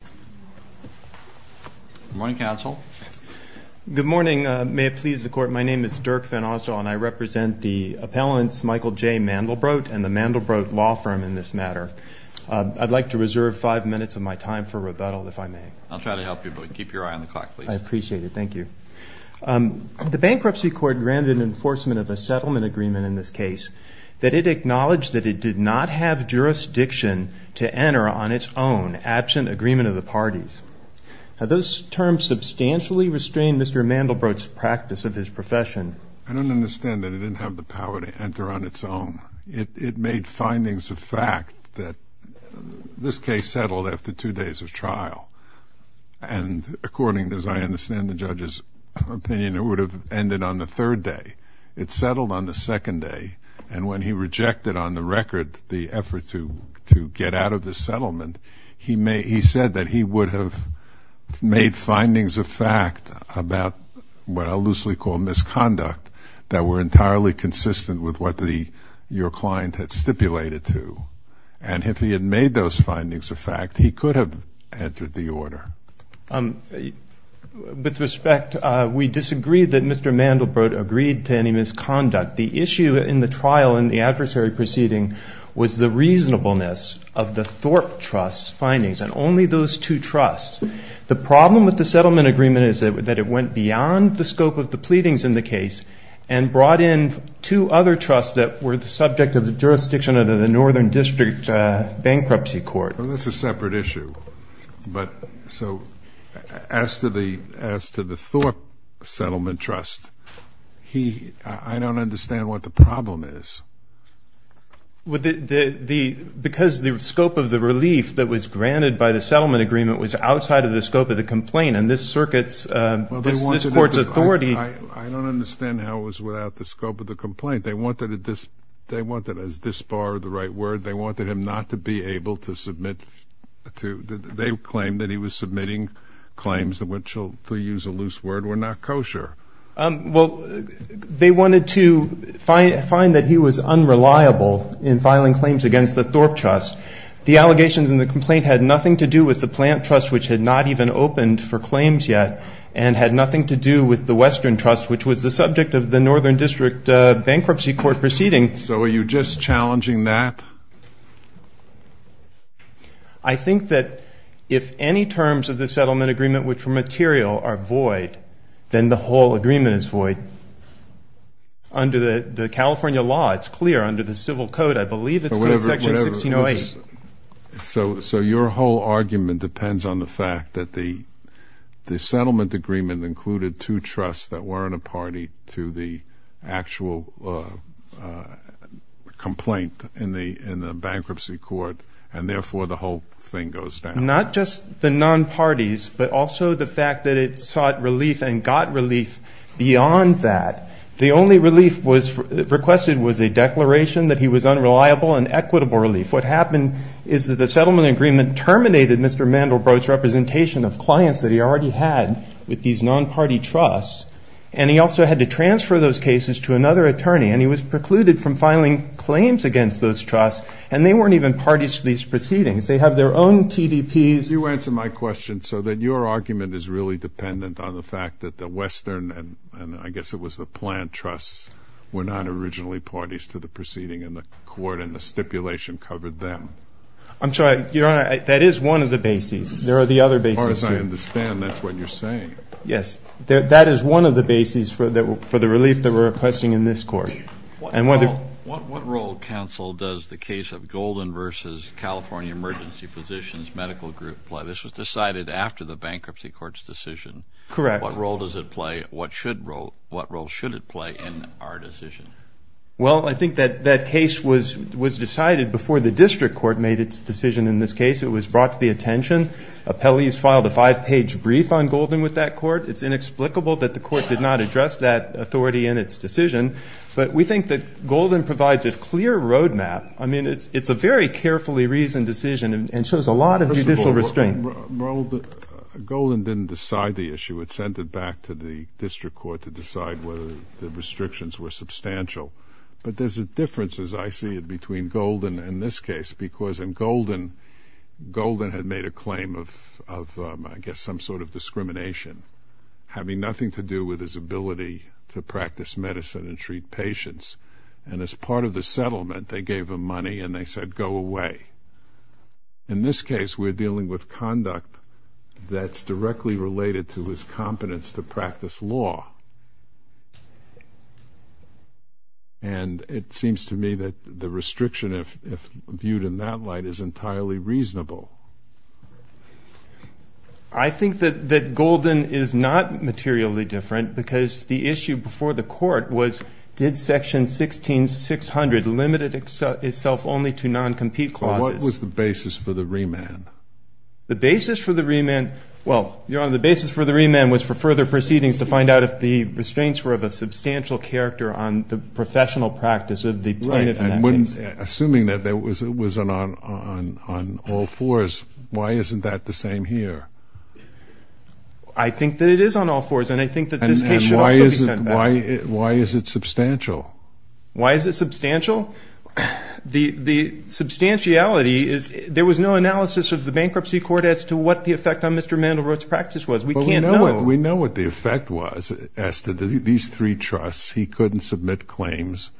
Good morning, counsel. Good morning. May it please the court, my name is Dirk Van Osdaal, and I represent the appellants Michael J. Mandelbrot and the Mandelbrot Law Firm in this matter. I'd like to reserve five minutes of my time for rebuttal, if I may. I'll try to help you, but keep your eye on the clock, please. I appreciate it. Thank you. The Bankruptcy Court granted enforcement of a settlement agreement in this case that it acknowledged that it did not have jurisdiction to enter on its own, absent agreement of a settlement agreement. Now, those terms substantially restrain Mr. Mandelbrot's practice of his profession. I don't understand that it didn't have the power to enter on its own. It made findings of fact that this case settled after two days of trial. And according, as I understand the judge's opinion, it would have ended on the third day. It settled on the second day, and when he rejected on the record the effort to get out of the settlement, he said that he would have made findings of fact about what I'll loosely call misconduct that were entirely consistent with what your client had stipulated to. And if he had made those findings of fact, he could have entered the order. With respect, we disagree that Mr. Mandelbrot agreed to any misconduct. The issue in the trial in the adversary proceeding was the reasonableness of the Thorpe Trust's findings, and only those two trusts. The problem with the settlement agreement is that it went beyond the scope of the pleadings in the case and brought in two other trusts that were the subject of the jurisdiction of the Northern District Bankruptcy Court. Well, that's a separate issue. But so as to the Thorpe Settlement Trust, I don't understand what the problem is. Because the scope of the relief that was granted by the settlement agreement was outside of the scope of the complaint, and this Circuit's, this Court's authority – I don't understand how it was without the scope of the complaint. They wanted – they wanted – is this bar the right word? They wanted him not to be able to submit to – they claimed that he was submitting claims, which, to use a loose word, were not kosher. Well, they wanted to find that he was unreliable in filing claims against the Thorpe Trust. The allegations in the complaint had nothing to do with the Plant Trust, which had not even opened for claims yet, and had nothing to do with the Western Trust, which was the subject of the Northern District Bankruptcy Court proceeding. So are you just challenging that? I think that if any terms of the settlement agreement, which were material, are void, then the whole agreement is void. Under the California law, it's clear. Under the Civil Code, I believe it's good in Section 1608. So your whole argument depends on the fact that the settlement agreement included two trusts that weren't a party to the actual complaint in the Bankruptcy Court, and therefore the whole thing goes down. Not just the non-parties, but also the fact that it sought relief and got relief beyond that. The only relief requested was a declaration that he was unreliable and equitable relief. What happened is that the settlement agreement terminated Mr. Mandelbrot's representation of clients that he already had with these non-party trusts, and he also had to transfer those cases to another attorney. And he was precluded from filing claims against those trusts, and they weren't even parties to these proceedings. They have their own TDPs. You answer my question so that your argument is really dependent on the fact that the Western, and I guess it was the Plant Trusts, were not originally parties to the proceeding in the court, and the stipulation covered them. I'm sorry. Your Honor, that is one of the bases. There are the other bases, too. As far as I understand, that's what you're saying. Yes. That is one of the bases for the relief that we're requesting in this court. What role, counsel, does the case of Golden v. California Emergency Physicians Medical Group play? This was decided after the Bankruptcy Court's decision. Correct. What role does it play? What role should it play in our decision? Well, I think that case was decided before the district court made its decision in this case. It was brought to the attention. Appellees filed a five-page brief on Golden with that court. It's inexplicable that the court did not address that authority in its decision. But we think that Golden provides a clear roadmap. I mean, it's a very carefully reasoned decision and shows a lot of judicial restraint. Golden didn't decide the issue. It sent it back to the district court to decide whether the restrictions were substantial. But there's a difference, as I see it, between Golden and this case, because in Golden, Golden had made a claim of, I guess, some sort of discrimination, having nothing to do with his ability to practice medicine and treat patients. And as part of the settlement, they gave him money and they said, go away. In this case, we're dealing with conduct that's directly related to his competence to practice law. And it seems to me that the restriction, if viewed in that light, is entirely reasonable. I think that Golden is not materially different because the issue before the court was, did Section 1600 limit itself only to non-compete clauses? But what was the basis for the remand? The basis for the remand, well, Your Honor, the basis for the remand was for further proceedings to find out if the restraints were of a substantial character on the professional practice of the plaintiff in that case. Right. And assuming that it was on all fours, why isn't that the same here? I think that it is on all fours, and I think that this case should also be sent back. Why is it substantial? Why is it substantial? The substantiality is, there was no analysis of the bankruptcy court as to what the effect on Mr. Mandelbrot's practice was. We can't know. Well, we know what the effect was as to these three trusts. He couldn't submit claims,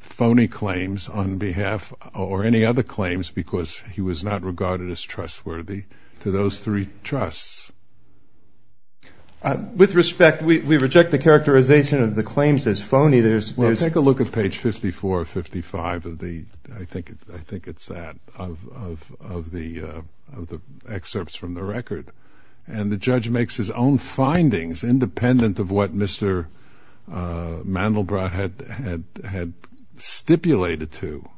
phony claims, on behalf or any other claims because he was not regarded as trustworthy to those three trusts. With respect, we reject the characterization of the claims as phony. Well, take a look at page 54 or 55 of the, I think it's that, of the excerpts from the record. And the judge makes his own findings independent of what Mr. Mandelbrot had stipulated to.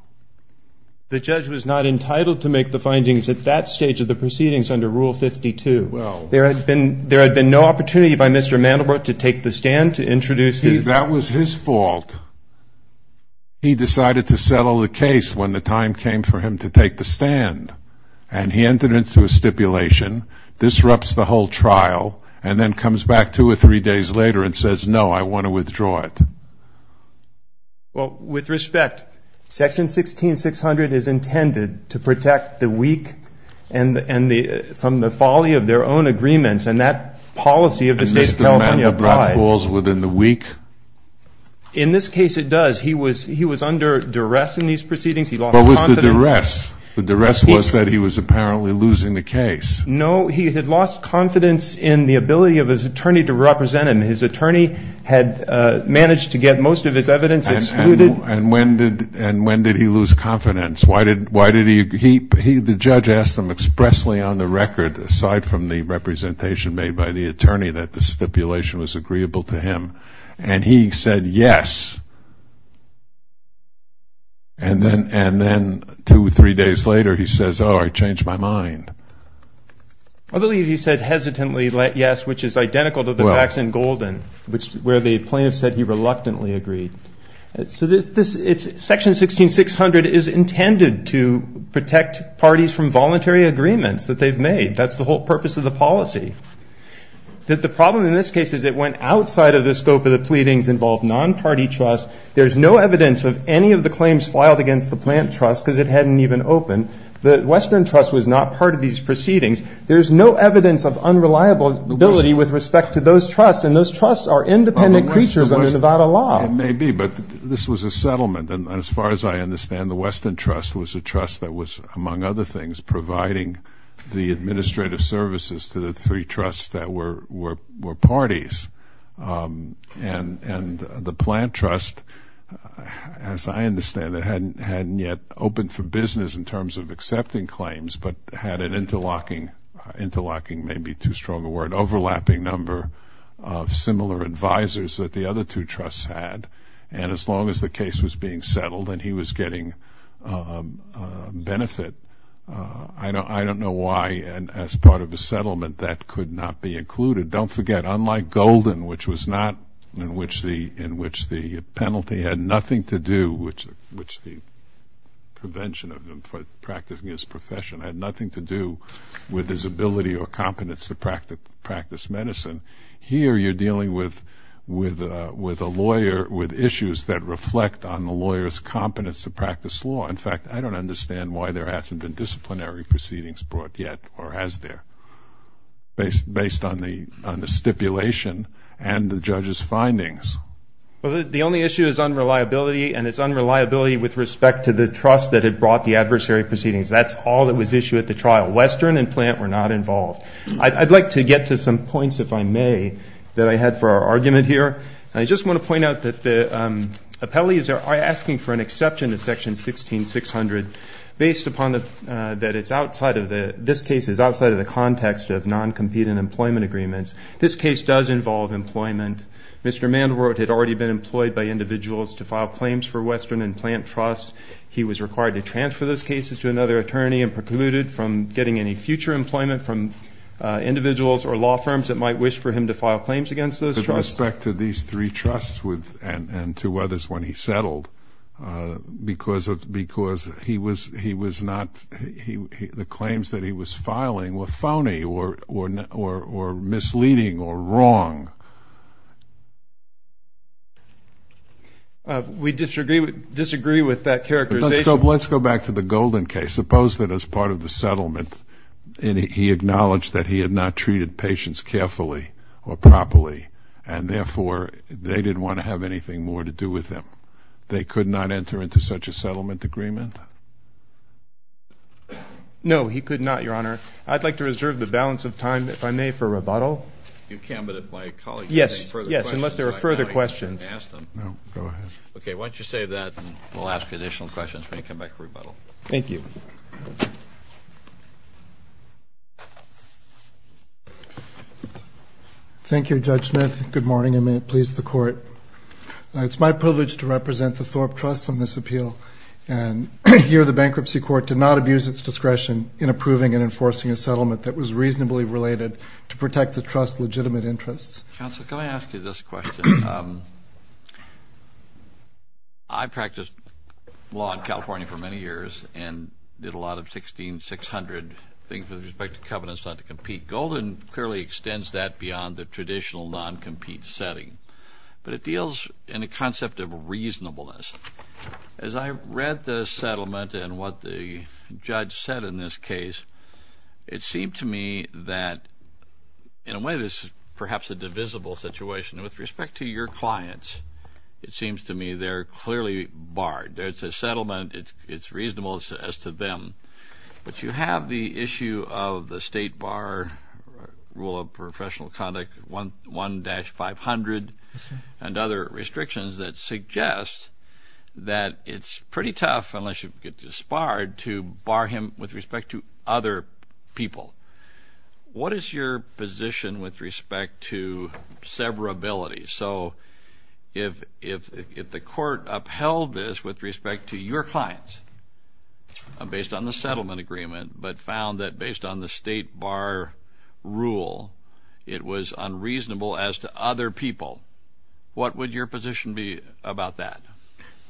The judge was not entitled to make the findings at that stage of the proceedings under Rule 52. Well. There had been no opportunity by Mr. Mandelbrot to take the stand, to introduce his. That was his fault. He decided to settle the case when the time came for him to take the stand, and he entered into a stipulation, disrupts the whole trial, and then comes back two or three days later and says, no, I want to withdraw it. Well, with respect, Section 16600 is intended to protect the weak from the folly of their own agreements, and that policy of the State of California applies. And Mr. Mandelbrot falls within the weak? In this case, it does. He was under duress in these proceedings. He lost confidence. What was the duress? The duress was that he was apparently losing the case. No, he had lost confidence in the ability of his attorney to represent him. And his attorney had managed to get most of his evidence. And when did he lose confidence? Why did he? The judge asked him expressly on the record, aside from the representation made by the attorney, that the stipulation was agreeable to him, and he said yes. And then two or three days later, he says, oh, I changed my mind. I believe he said hesitantly yes, which is identical to the facts in Golden, where the plaintiff said he reluctantly agreed. So Section 16600 is intended to protect parties from voluntary agreements that they've made. That's the whole purpose of the policy. The problem in this case is it went outside of the scope of the pleadings involved non-party trust. There's no evidence of any of the claims filed against the plant trust because it hadn't even opened. The western trust was not part of these proceedings. There's no evidence of unreliable ability with respect to those trusts, and those trusts are independent creatures under Nevada law. It may be, but this was a settlement. And as far as I understand, the western trust was a trust that was, among other things, providing the administrative services to the three trusts that were parties. And the plant trust, as I understand it, hadn't yet opened for business in terms of accepting claims, but had an interlocking, interlocking may be too strong a word, overlapping number of similar advisors that the other two trusts had. And as long as the case was being settled and he was getting benefit, I don't know why as part of a settlement that could not be included. Don't forget, unlike Golden, which was not in which the penalty had nothing to do, which the prevention of him for practicing his profession had nothing to do with his ability or competence to practice medicine, here you're dealing with a lawyer, with issues that reflect on the lawyer's competence to practice law. In fact, I don't understand why there hasn't been disciplinary proceedings brought yet or has there based on the stipulation and the judge's findings. Well, the only issue is unreliability, and it's unreliability with respect to the trust that had brought the adversary proceedings. That's all that was issued at the trial. Western and plant were not involved. I'd like to get to some points, if I may, that I had for our argument here. I just want to point out that the appellees are asking for an exception to Section 1600 based upon that this case is outside of the context of non-competent employment agreements. This case does involve employment. Mr. Mandelbrot had already been employed by individuals to file claims for Western and plant trusts. He was required to transfer those cases to another attorney and precluded from getting any future employment from individuals or law firms that might wish for him to file claims against those trusts. With respect to these three trusts and to others when he settled, because the claims that he was filing were phony or misleading or wrong. We disagree with that characterization. Let's go back to the Golden case. Suppose that as part of the settlement he acknowledged that he had not treated patients carefully or properly, and therefore they didn't want to have anything more to do with him. They could not enter into such a settlement agreement? No, he could not, Your Honor. I'd like to reserve the balance of time, if I may, for rebuttal. You can, but if my colleagues have any further questions, I can ask them. No, go ahead. Okay, why don't you save that and we'll ask additional questions when you come back for rebuttal. Thank you. Thank you, Judge Smith. Good morning and may it please the Court. It's my privilege to represent the Thorpe Trusts on this appeal, and here the bankruptcy court did not abuse its discretion in approving and enforcing a settlement that was reasonably related to protect the trust's legitimate interests. Counsel, can I ask you this question? I practiced law in California for many years and did a lot of 1600 things with respect to covenants not to compete. Golden clearly extends that beyond the traditional non-compete setting, but it deals in a concept of reasonableness. As I read the settlement and what the judge said in this case, it seemed to me that in a way this is perhaps a divisible situation. With respect to your clients, it seems to me they're clearly barred. It's a settlement, it's reasonable as to them, but you have the issue of the state bar rule of professional conduct 1-500 and other restrictions that suggest that it's pretty tough, unless you get disbarred, to bar him with respect to other people. What is your position with respect to severability? So if the court upheld this with respect to your clients based on the settlement agreement but found that based on the state bar rule it was unreasonable as to other people, what would your position be about that?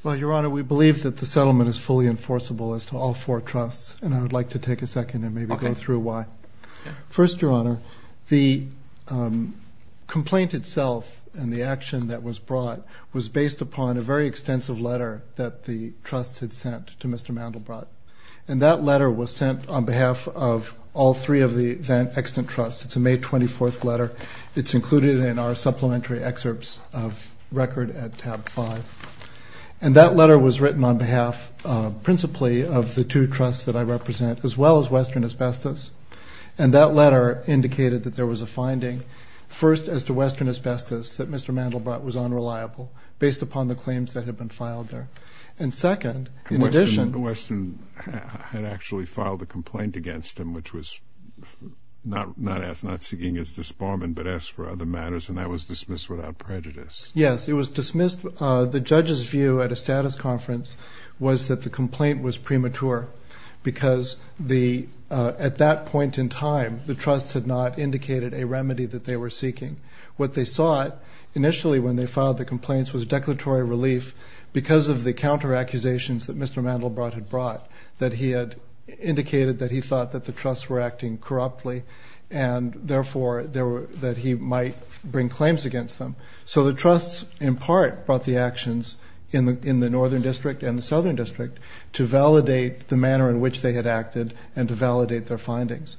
Well, Your Honor, we believe that the settlement is fully enforceable as to all four trusts, and I would like to take a second and maybe go through why. First, Your Honor, the complaint itself and the action that was brought was based upon a very extensive letter that the trust had sent to Mr. Mandelbrot, and that letter was sent on behalf of all three of the extant trusts. It's a May 24th letter. It's included in our supplementary excerpts of record at tab 5, and that letter was written on behalf principally of the two trusts that I represent, as well as Western Asbestos, and that letter indicated that there was a finding, first, as to Western Asbestos, that Mr. Mandelbrot was unreliable based upon the claims that had been filed there. And second, in addition... Western had actually filed a complaint against him, which was not seeking his disbarment but asked for other matters, and that was dismissed without prejudice. Yes, it was dismissed. The judge's view at a status conference was that the complaint was premature because at that point in time the trusts had not indicated a remedy that they were seeking. What they sought initially when they filed the complaints was declaratory relief because of the counteraccusations that Mr. Mandelbrot had brought, that he had indicated that he thought that the trusts were acting corruptly and therefore that he might bring claims against them. So the trusts in part brought the actions in the northern district and the southern district to validate the manner in which they had acted and to validate their findings.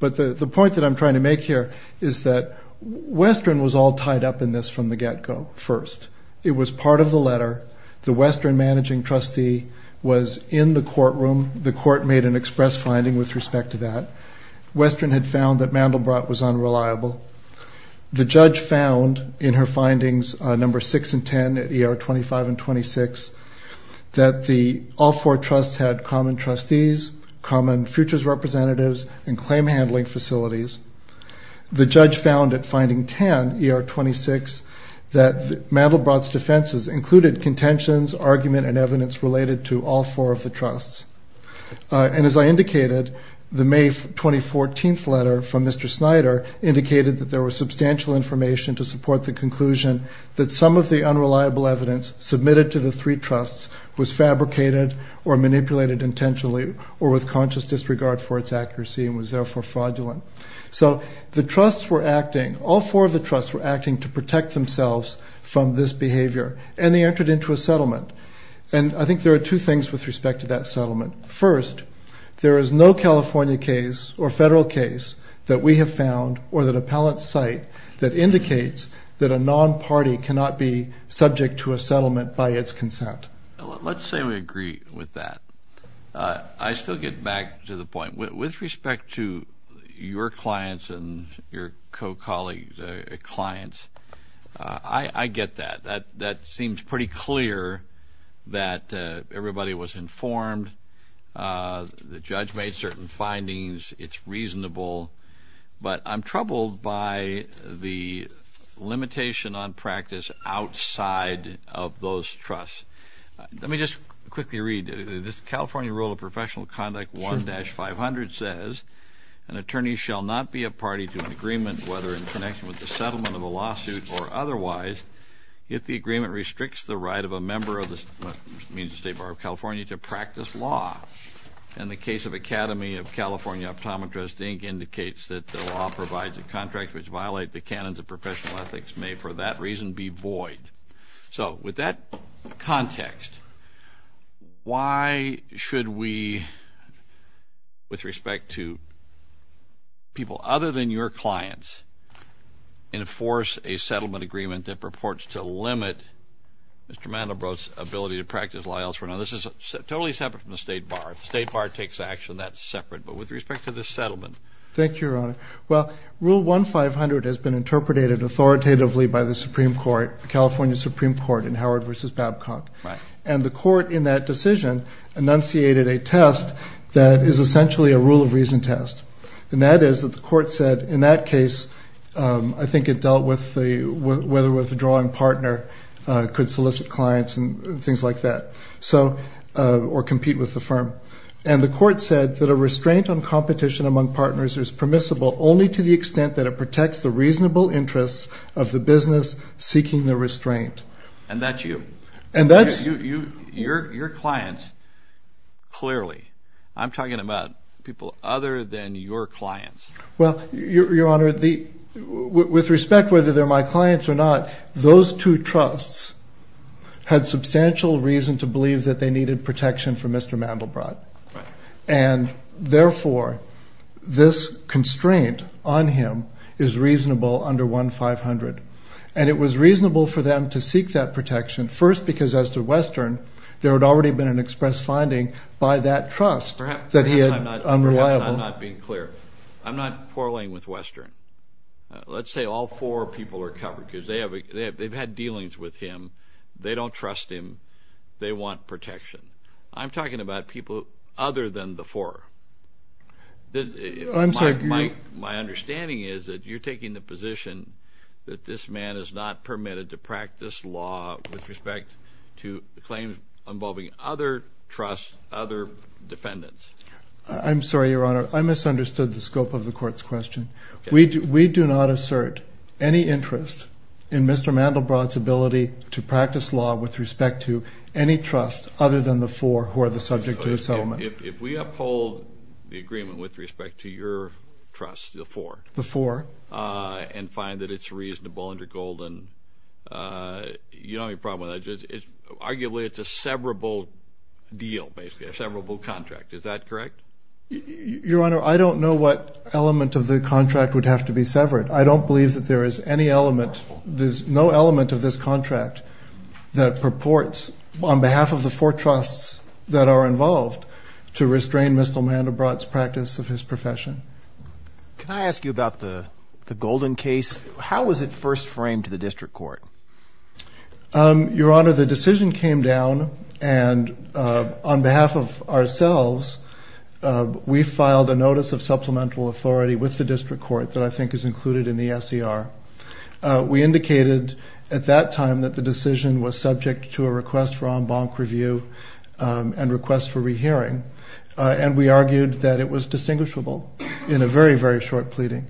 But the point that I'm trying to make here is that Western was all tied up in this from the get-go first. It was part of the letter. The Western managing trustee was in the courtroom. The court made an express finding with respect to that. Western had found that Mandelbrot was unreliable. The judge found in her findings number 6 and 10 at ER 25 and 26 that all four trusts had common trustees, common futures representatives, and claim handling facilities. The judge found at finding 10, ER 26, that Mandelbrot's defenses included contentions, argument, and evidence related to all four of the trusts. And as I indicated, the May 2014 letter from Mr. Snyder indicated that there was substantial information to support the conclusion that some of the unreliable evidence submitted to the three trusts was fabricated or manipulated intentionally or with conscious disregard for its accuracy and was therefore fraudulent. So the trusts were acting, all four of the trusts were acting to protect themselves from this behavior, and they entered into a settlement. And I think there are two things with respect to that settlement. First, there is no California case or federal case that we have found or that appellants cite that indicates that a non-party cannot be subject to a settlement by its consent. Let's say we agree with that. I still get back to the point. With respect to your clients and your co-colleagues' clients, I get that. That seems pretty clear that everybody was informed. The judge made certain findings. It's reasonable. But I'm troubled by the limitation on practice outside of those trusts. Let me just quickly read. The California Rule of Professional Conduct 1-500 says, An attorney shall not be a party to an agreement whether in connection with the settlement of a lawsuit or otherwise if the agreement restricts the right of a member of the State Bar of California to practice law. And the case of Academy of California Optometrists, Inc. indicates that the law provides a contract which violates the canons of professional ethics may for that reason be void. So with that context, why should we, with respect to people other than your clients, enforce a settlement agreement that purports to limit Mr. Mandelbrot's ability to practice law elsewhere? Now, this is totally separate from the State Bar. The State Bar takes action. That's separate. Thank you, Your Honor. Well, Rule 1-500 has been interpreted authoritatively by the Supreme Court, the California Supreme Court in Howard v. Babcock. And the court in that decision enunciated a test that is essentially a rule of reason test. And that is that the court said, in that case, I think it dealt with whether withdrawing partner could solicit clients and things like that or compete with the firm. And the court said that a restraint on competition among partners is permissible only to the extent that it protects the reasonable interests of the business seeking the restraint. And that's you. And that's... Your clients, clearly. I'm talking about people other than your clients. Well, Your Honor, with respect, whether they're my clients or not, those two trusts had substantial reason to believe that they needed protection from Mr. Mandelbrot. And, therefore, this constraint on him is reasonable under 1-500. And it was reasonable for them to seek that protection, first because, as to Western, there had already been an express finding by that trust that he had unreliable... Perhaps I'm not being clear. I'm not quarreling with Western. Let's say all four people are covered because they've had dealings with him. They don't trust him. They want protection. I'm talking about people other than the four. My understanding is that you're taking the position that this man is not permitted to practice law with respect to claims involving other trusts, other defendants. I'm sorry, Your Honor. I misunderstood the scope of the court's question. We do not assert any interest in Mr. Mandelbrot's ability to practice law with respect to any trust other than the four who are the subject of the settlement. If we uphold the agreement with respect to your trust, the four, and find that it's reasonable under Golden, you don't have any problem with that. Arguably, it's a severable deal, basically, a severable contract. Is that correct? Your Honor, I don't know what element of the contract would have to be severed. I don't believe that there is any element, there's no element of this contract that purports, on behalf of the four trusts that are involved, to restrain Mr. Mandelbrot's practice of his profession. Can I ask you about the Golden case? How was it first framed to the district court? Your Honor, the decision came down, and on behalf of ourselves, we filed a notice of supplemental authority with the district court that I think is included in the SER. We indicated at that time that the decision was subject to a request for en banc review and request for rehearing, and we argued that it was distinguishable in a very, very short pleading.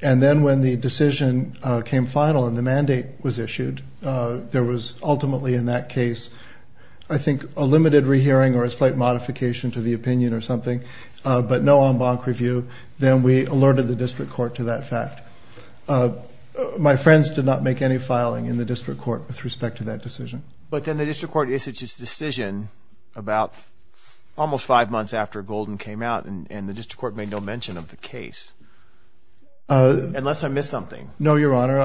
And then when the decision came final and the mandate was issued, there was ultimately in that case, I think, a limited rehearing or a slight modification to the opinion or something, but no en banc review. Then we alerted the district court to that fact. My friends did not make any filing in the district court with respect to that decision. But then the district court issued its decision about almost five months after Golden came out, and the district court made no mention of the case, unless I missed something. No, Your Honor.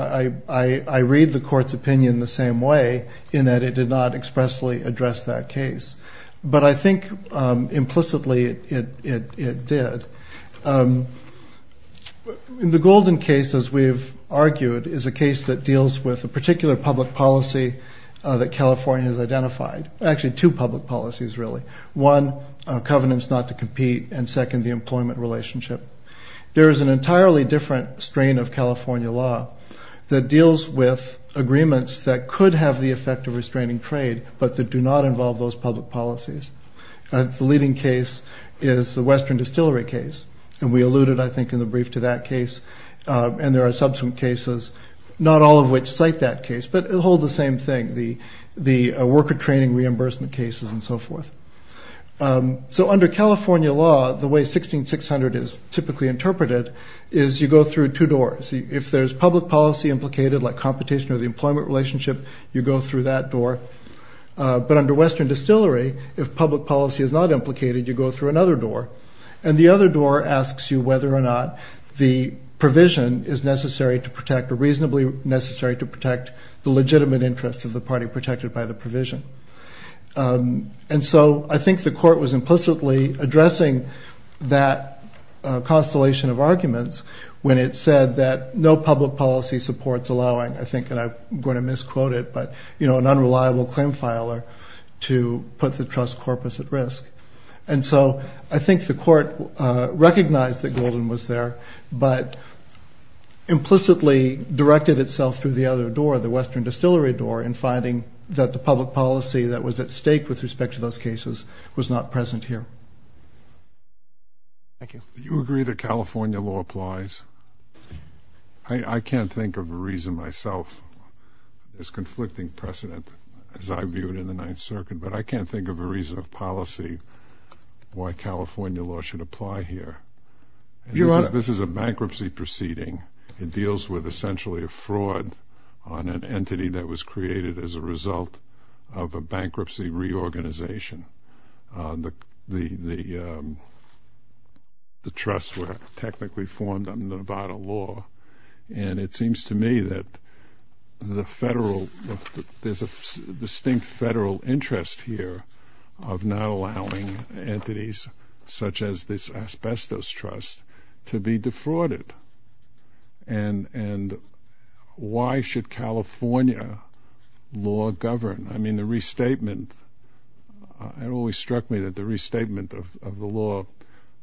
I read the court's opinion the same way, in that it did not expressly address that case. But I think implicitly it did. The Golden case, as we've argued, is a case that deals with a particular public policy that California has identified. Actually, two public policies, really. One, covenants not to compete, and second, the employment relationship. There is an entirely different strain of California law that deals with agreements that could have the effect of restraining trade but that do not involve those public policies. The leading case is the Western Distillery case, and we alluded, I think, in the brief to that case. And there are subsequent cases, not all of which cite that case, but hold the same thing, the worker training reimbursement cases and so forth. So under California law, the way 16600 is typically interpreted is you go through two doors. If there's public policy implicated, like competition or the employment relationship, you go through that door. But under Western Distillery, if public policy is not implicated, you go through another door, and the other door asks you whether or not the provision is necessary to protect the legitimate interests of the party protected by the provision. And so I think the court was implicitly addressing that constellation of arguments when it said that no public policy supports allowing, I think, and I'm going to misquote it, but an unreliable claim filer to put the trust corpus at risk. And so I think the court recognized that Golden was there, but implicitly directed itself through the other door, the Western Distillery door, in finding that the public policy that was at stake with respect to those cases was not present here. Thank you. Do you agree that California law applies? I can't think of a reason myself. It's conflicting precedent as I view it in the Ninth Circuit, but I can't think of a reason of policy why California law should apply here. This is a bankruptcy proceeding. It deals with essentially a fraud on an entity that was created as a result of a bankruptcy reorganization. The trusts were technically formed under Nevada law, and it seems to me that there's a distinct federal interest here of not allowing entities such as this asbestos trust to be defrauded. And why should California law govern? I mean, the restatement, it always struck me that the restatement of the law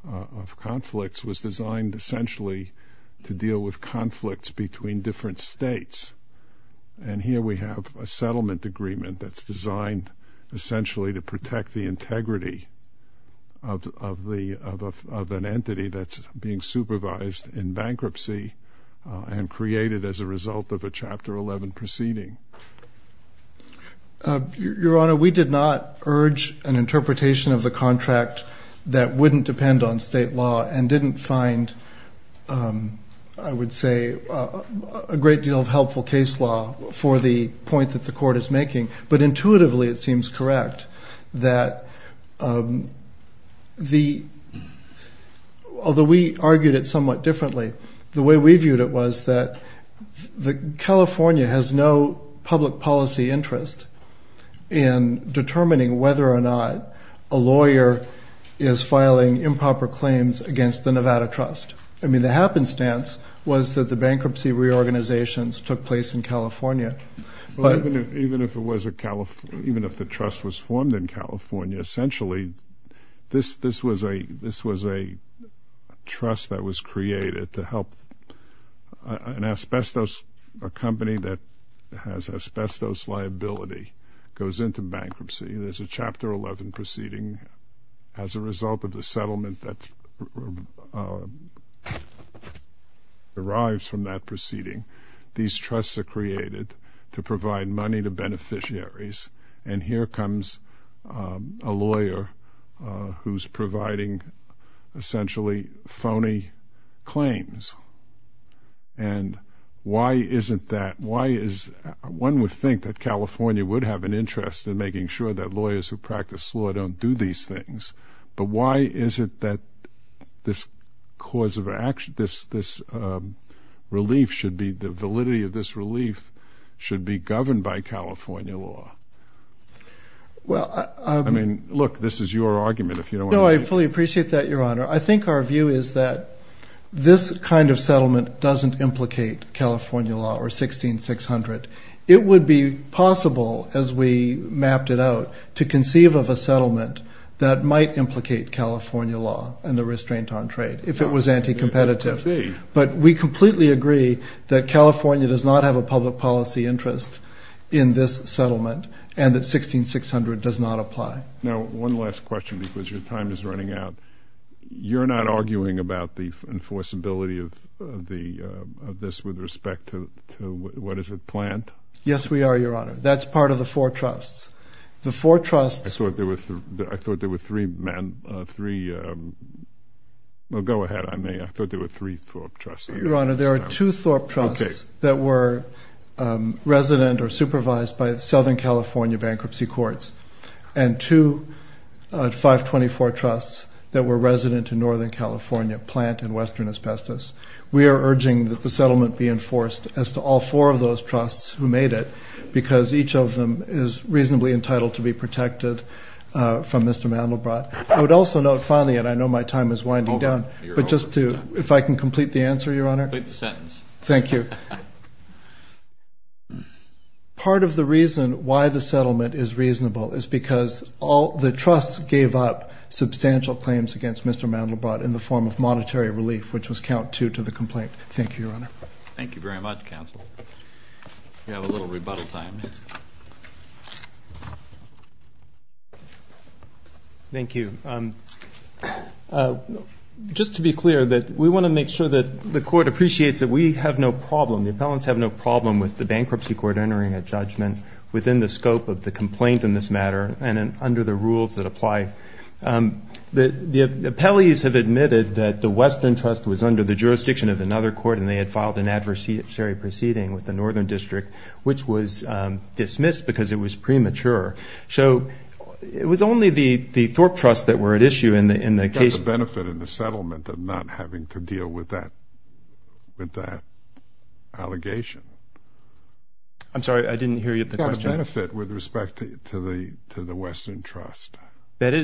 of conflicts was designed essentially to deal with conflicts between different states. And here we have a settlement agreement that's designed essentially to protect the integrity of an entity that's being supervised in bankruptcy and created as a result of a Chapter 11 proceeding. Your Honor, we did not urge an interpretation of the contract that wouldn't depend on state law and didn't find, I would say, a great deal of helpful case law for the point that the court is making. But intuitively it seems correct that although we argued it somewhat differently, the way we viewed it was that California has no public policy interest in determining whether or not a lawyer is filing improper claims against the Nevada trust. I mean, the happenstance was that the bankruptcy reorganizations took place in California. Even if the trust was formed in California, essentially this was a trust that was created to help an asbestos company that has asbestos liability goes into bankruptcy. There's a Chapter 11 proceeding. As a result of the settlement that derives from that proceeding, these trusts are created to provide money to beneficiaries. And here comes a lawyer who's providing essentially phony claims. And why is it that one would think that California would have an interest in making sure that lawyers who practice law don't do these things. But why is it that this cause of action, this relief should be, the validity of this relief should be governed by California law? I mean, look, this is your argument. No, I fully appreciate that, Your Honor. I think our view is that this kind of settlement doesn't implicate California law or 16600. It would be possible, as we mapped it out, to conceive of a settlement that might implicate California law and the restraint on trade if it was anti-competitive. But we completely agree that California does not have a public policy interest in this settlement and that 1600 does not apply. Now, one last question because your time is running out. You're not arguing about the enforceability of this with respect to what is a plant? Yes, we are, Your Honor. That's part of the four trusts. I thought there were three, well, go ahead. I thought there were three Thorpe Trusts. Your Honor, there are two Thorpe Trusts that were resident or supervised by Southern California Bankruptcy Courts and two 524 Trusts that were resident in Northern California Plant and Western Asbestos. We are urging that the settlement be enforced as to all four of those trusts who made it because each of them is reasonably entitled to be protected from Mr. Mandelbrot. I would also note, finally, and I know my time is winding down, but just to, if I can complete the answer, Your Honor. Complete the sentence. Thank you. Part of the reason why the settlement is reasonable is because all the trusts gave up substantial claims against Mr. Mandelbrot in the form of monetary relief, which was count two to the complaint. Thank you, Your Honor. Thank you very much, counsel. We have a little rebuttal time. Thank you. Just to be clear, we want to make sure that the court appreciates that we have no problem, the appellants have no problem with the bankruptcy court entering a judgment within the scope of the complaint in this matter and under the rules that apply. The appellees have admitted that the Western Trust was under the jurisdiction of another court and they had filed an adversary proceeding with the Northern District, which was dismissed because it was premature. So it was only the Thorpe Trusts that were at issue in the case. There was a benefit in the settlement of not having to deal with that allegation. I'm sorry, I didn't hear you at the question. You got a benefit with respect to the Western Trust. That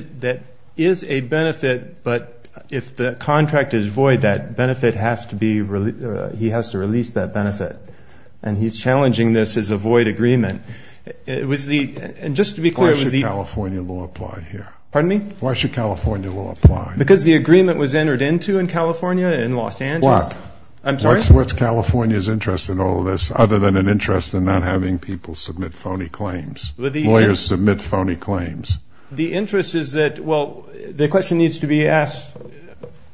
is a benefit, but if the contract is void, that benefit has to be released. He has to release that benefit. And he's challenging this as a void agreement. And just to be clear, it was the – Why should California law apply here? Pardon me? Why should California law apply? Because the agreement was entered into in California, in Los Angeles. What? I'm sorry? What's California's interest in all of this, other than an interest in not having people submit phony claims, lawyers submit phony claims? The interest is that – well, the question needs to be asked.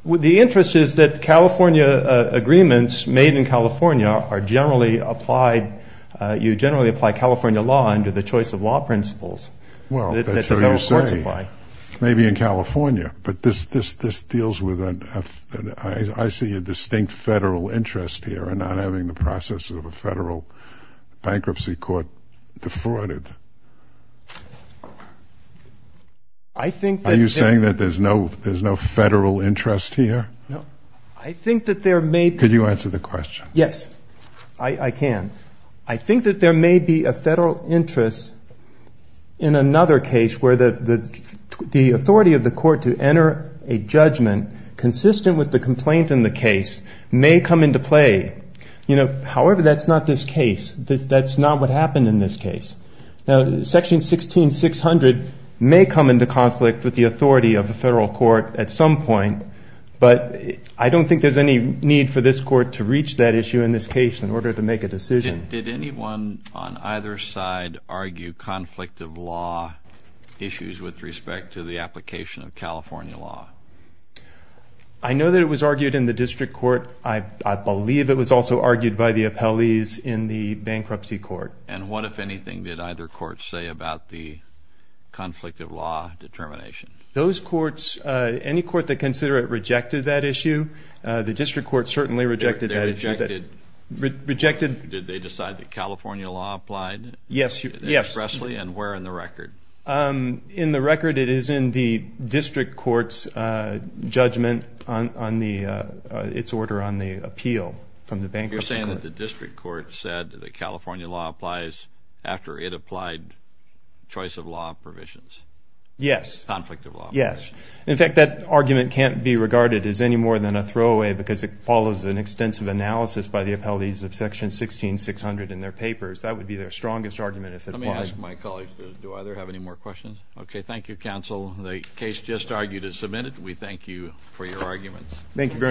The interest is that California agreements made in California are generally applied – you generally apply California law under the choice of law principles. Well, that's what you're saying. Maybe in California, but this deals with – I see a distinct federal interest here in not having the process of a federal bankruptcy court defrauded. Are you saying that there's no federal interest here? I think that there may be – Could you answer the question? Yes, I can. I think that there may be a federal interest in another case where the authority of the court to enter a judgment consistent with the complaint in the case may come into play. However, that's not this case. That's not what happened in this case. Section 16-600 may come into conflict with the authority of a federal court at some point, but I don't think there's any need for this court to reach that issue in this case in order to make a decision. Did anyone on either side argue conflict of law issues with respect to the application of California law? I know that it was argued in the district court. I believe it was also argued by the appellees in the bankruptcy court. And what, if anything, did either court say about the conflict of law determination? Those courts, any court that considered it rejected that issue. The district court certainly rejected that issue. They rejected? Rejected. Did they decide that California law applied expressly and where in the record? In the record, it is in the district court's judgment on its order on the appeal from the bankruptcy court. You're saying that the district court said that California law applies after it applied choice of law provisions? Yes. Conflict of law. Yes. In fact, that argument can't be regarded as any more than a throwaway because it follows an extensive analysis by the appellees of Section 16-600 in their papers. That would be their strongest argument if it was. Let me ask my colleagues, do either have any more questions? Okay. Thank you, counsel. The case just argued is submitted. We thank you for your arguments. Thank you very much.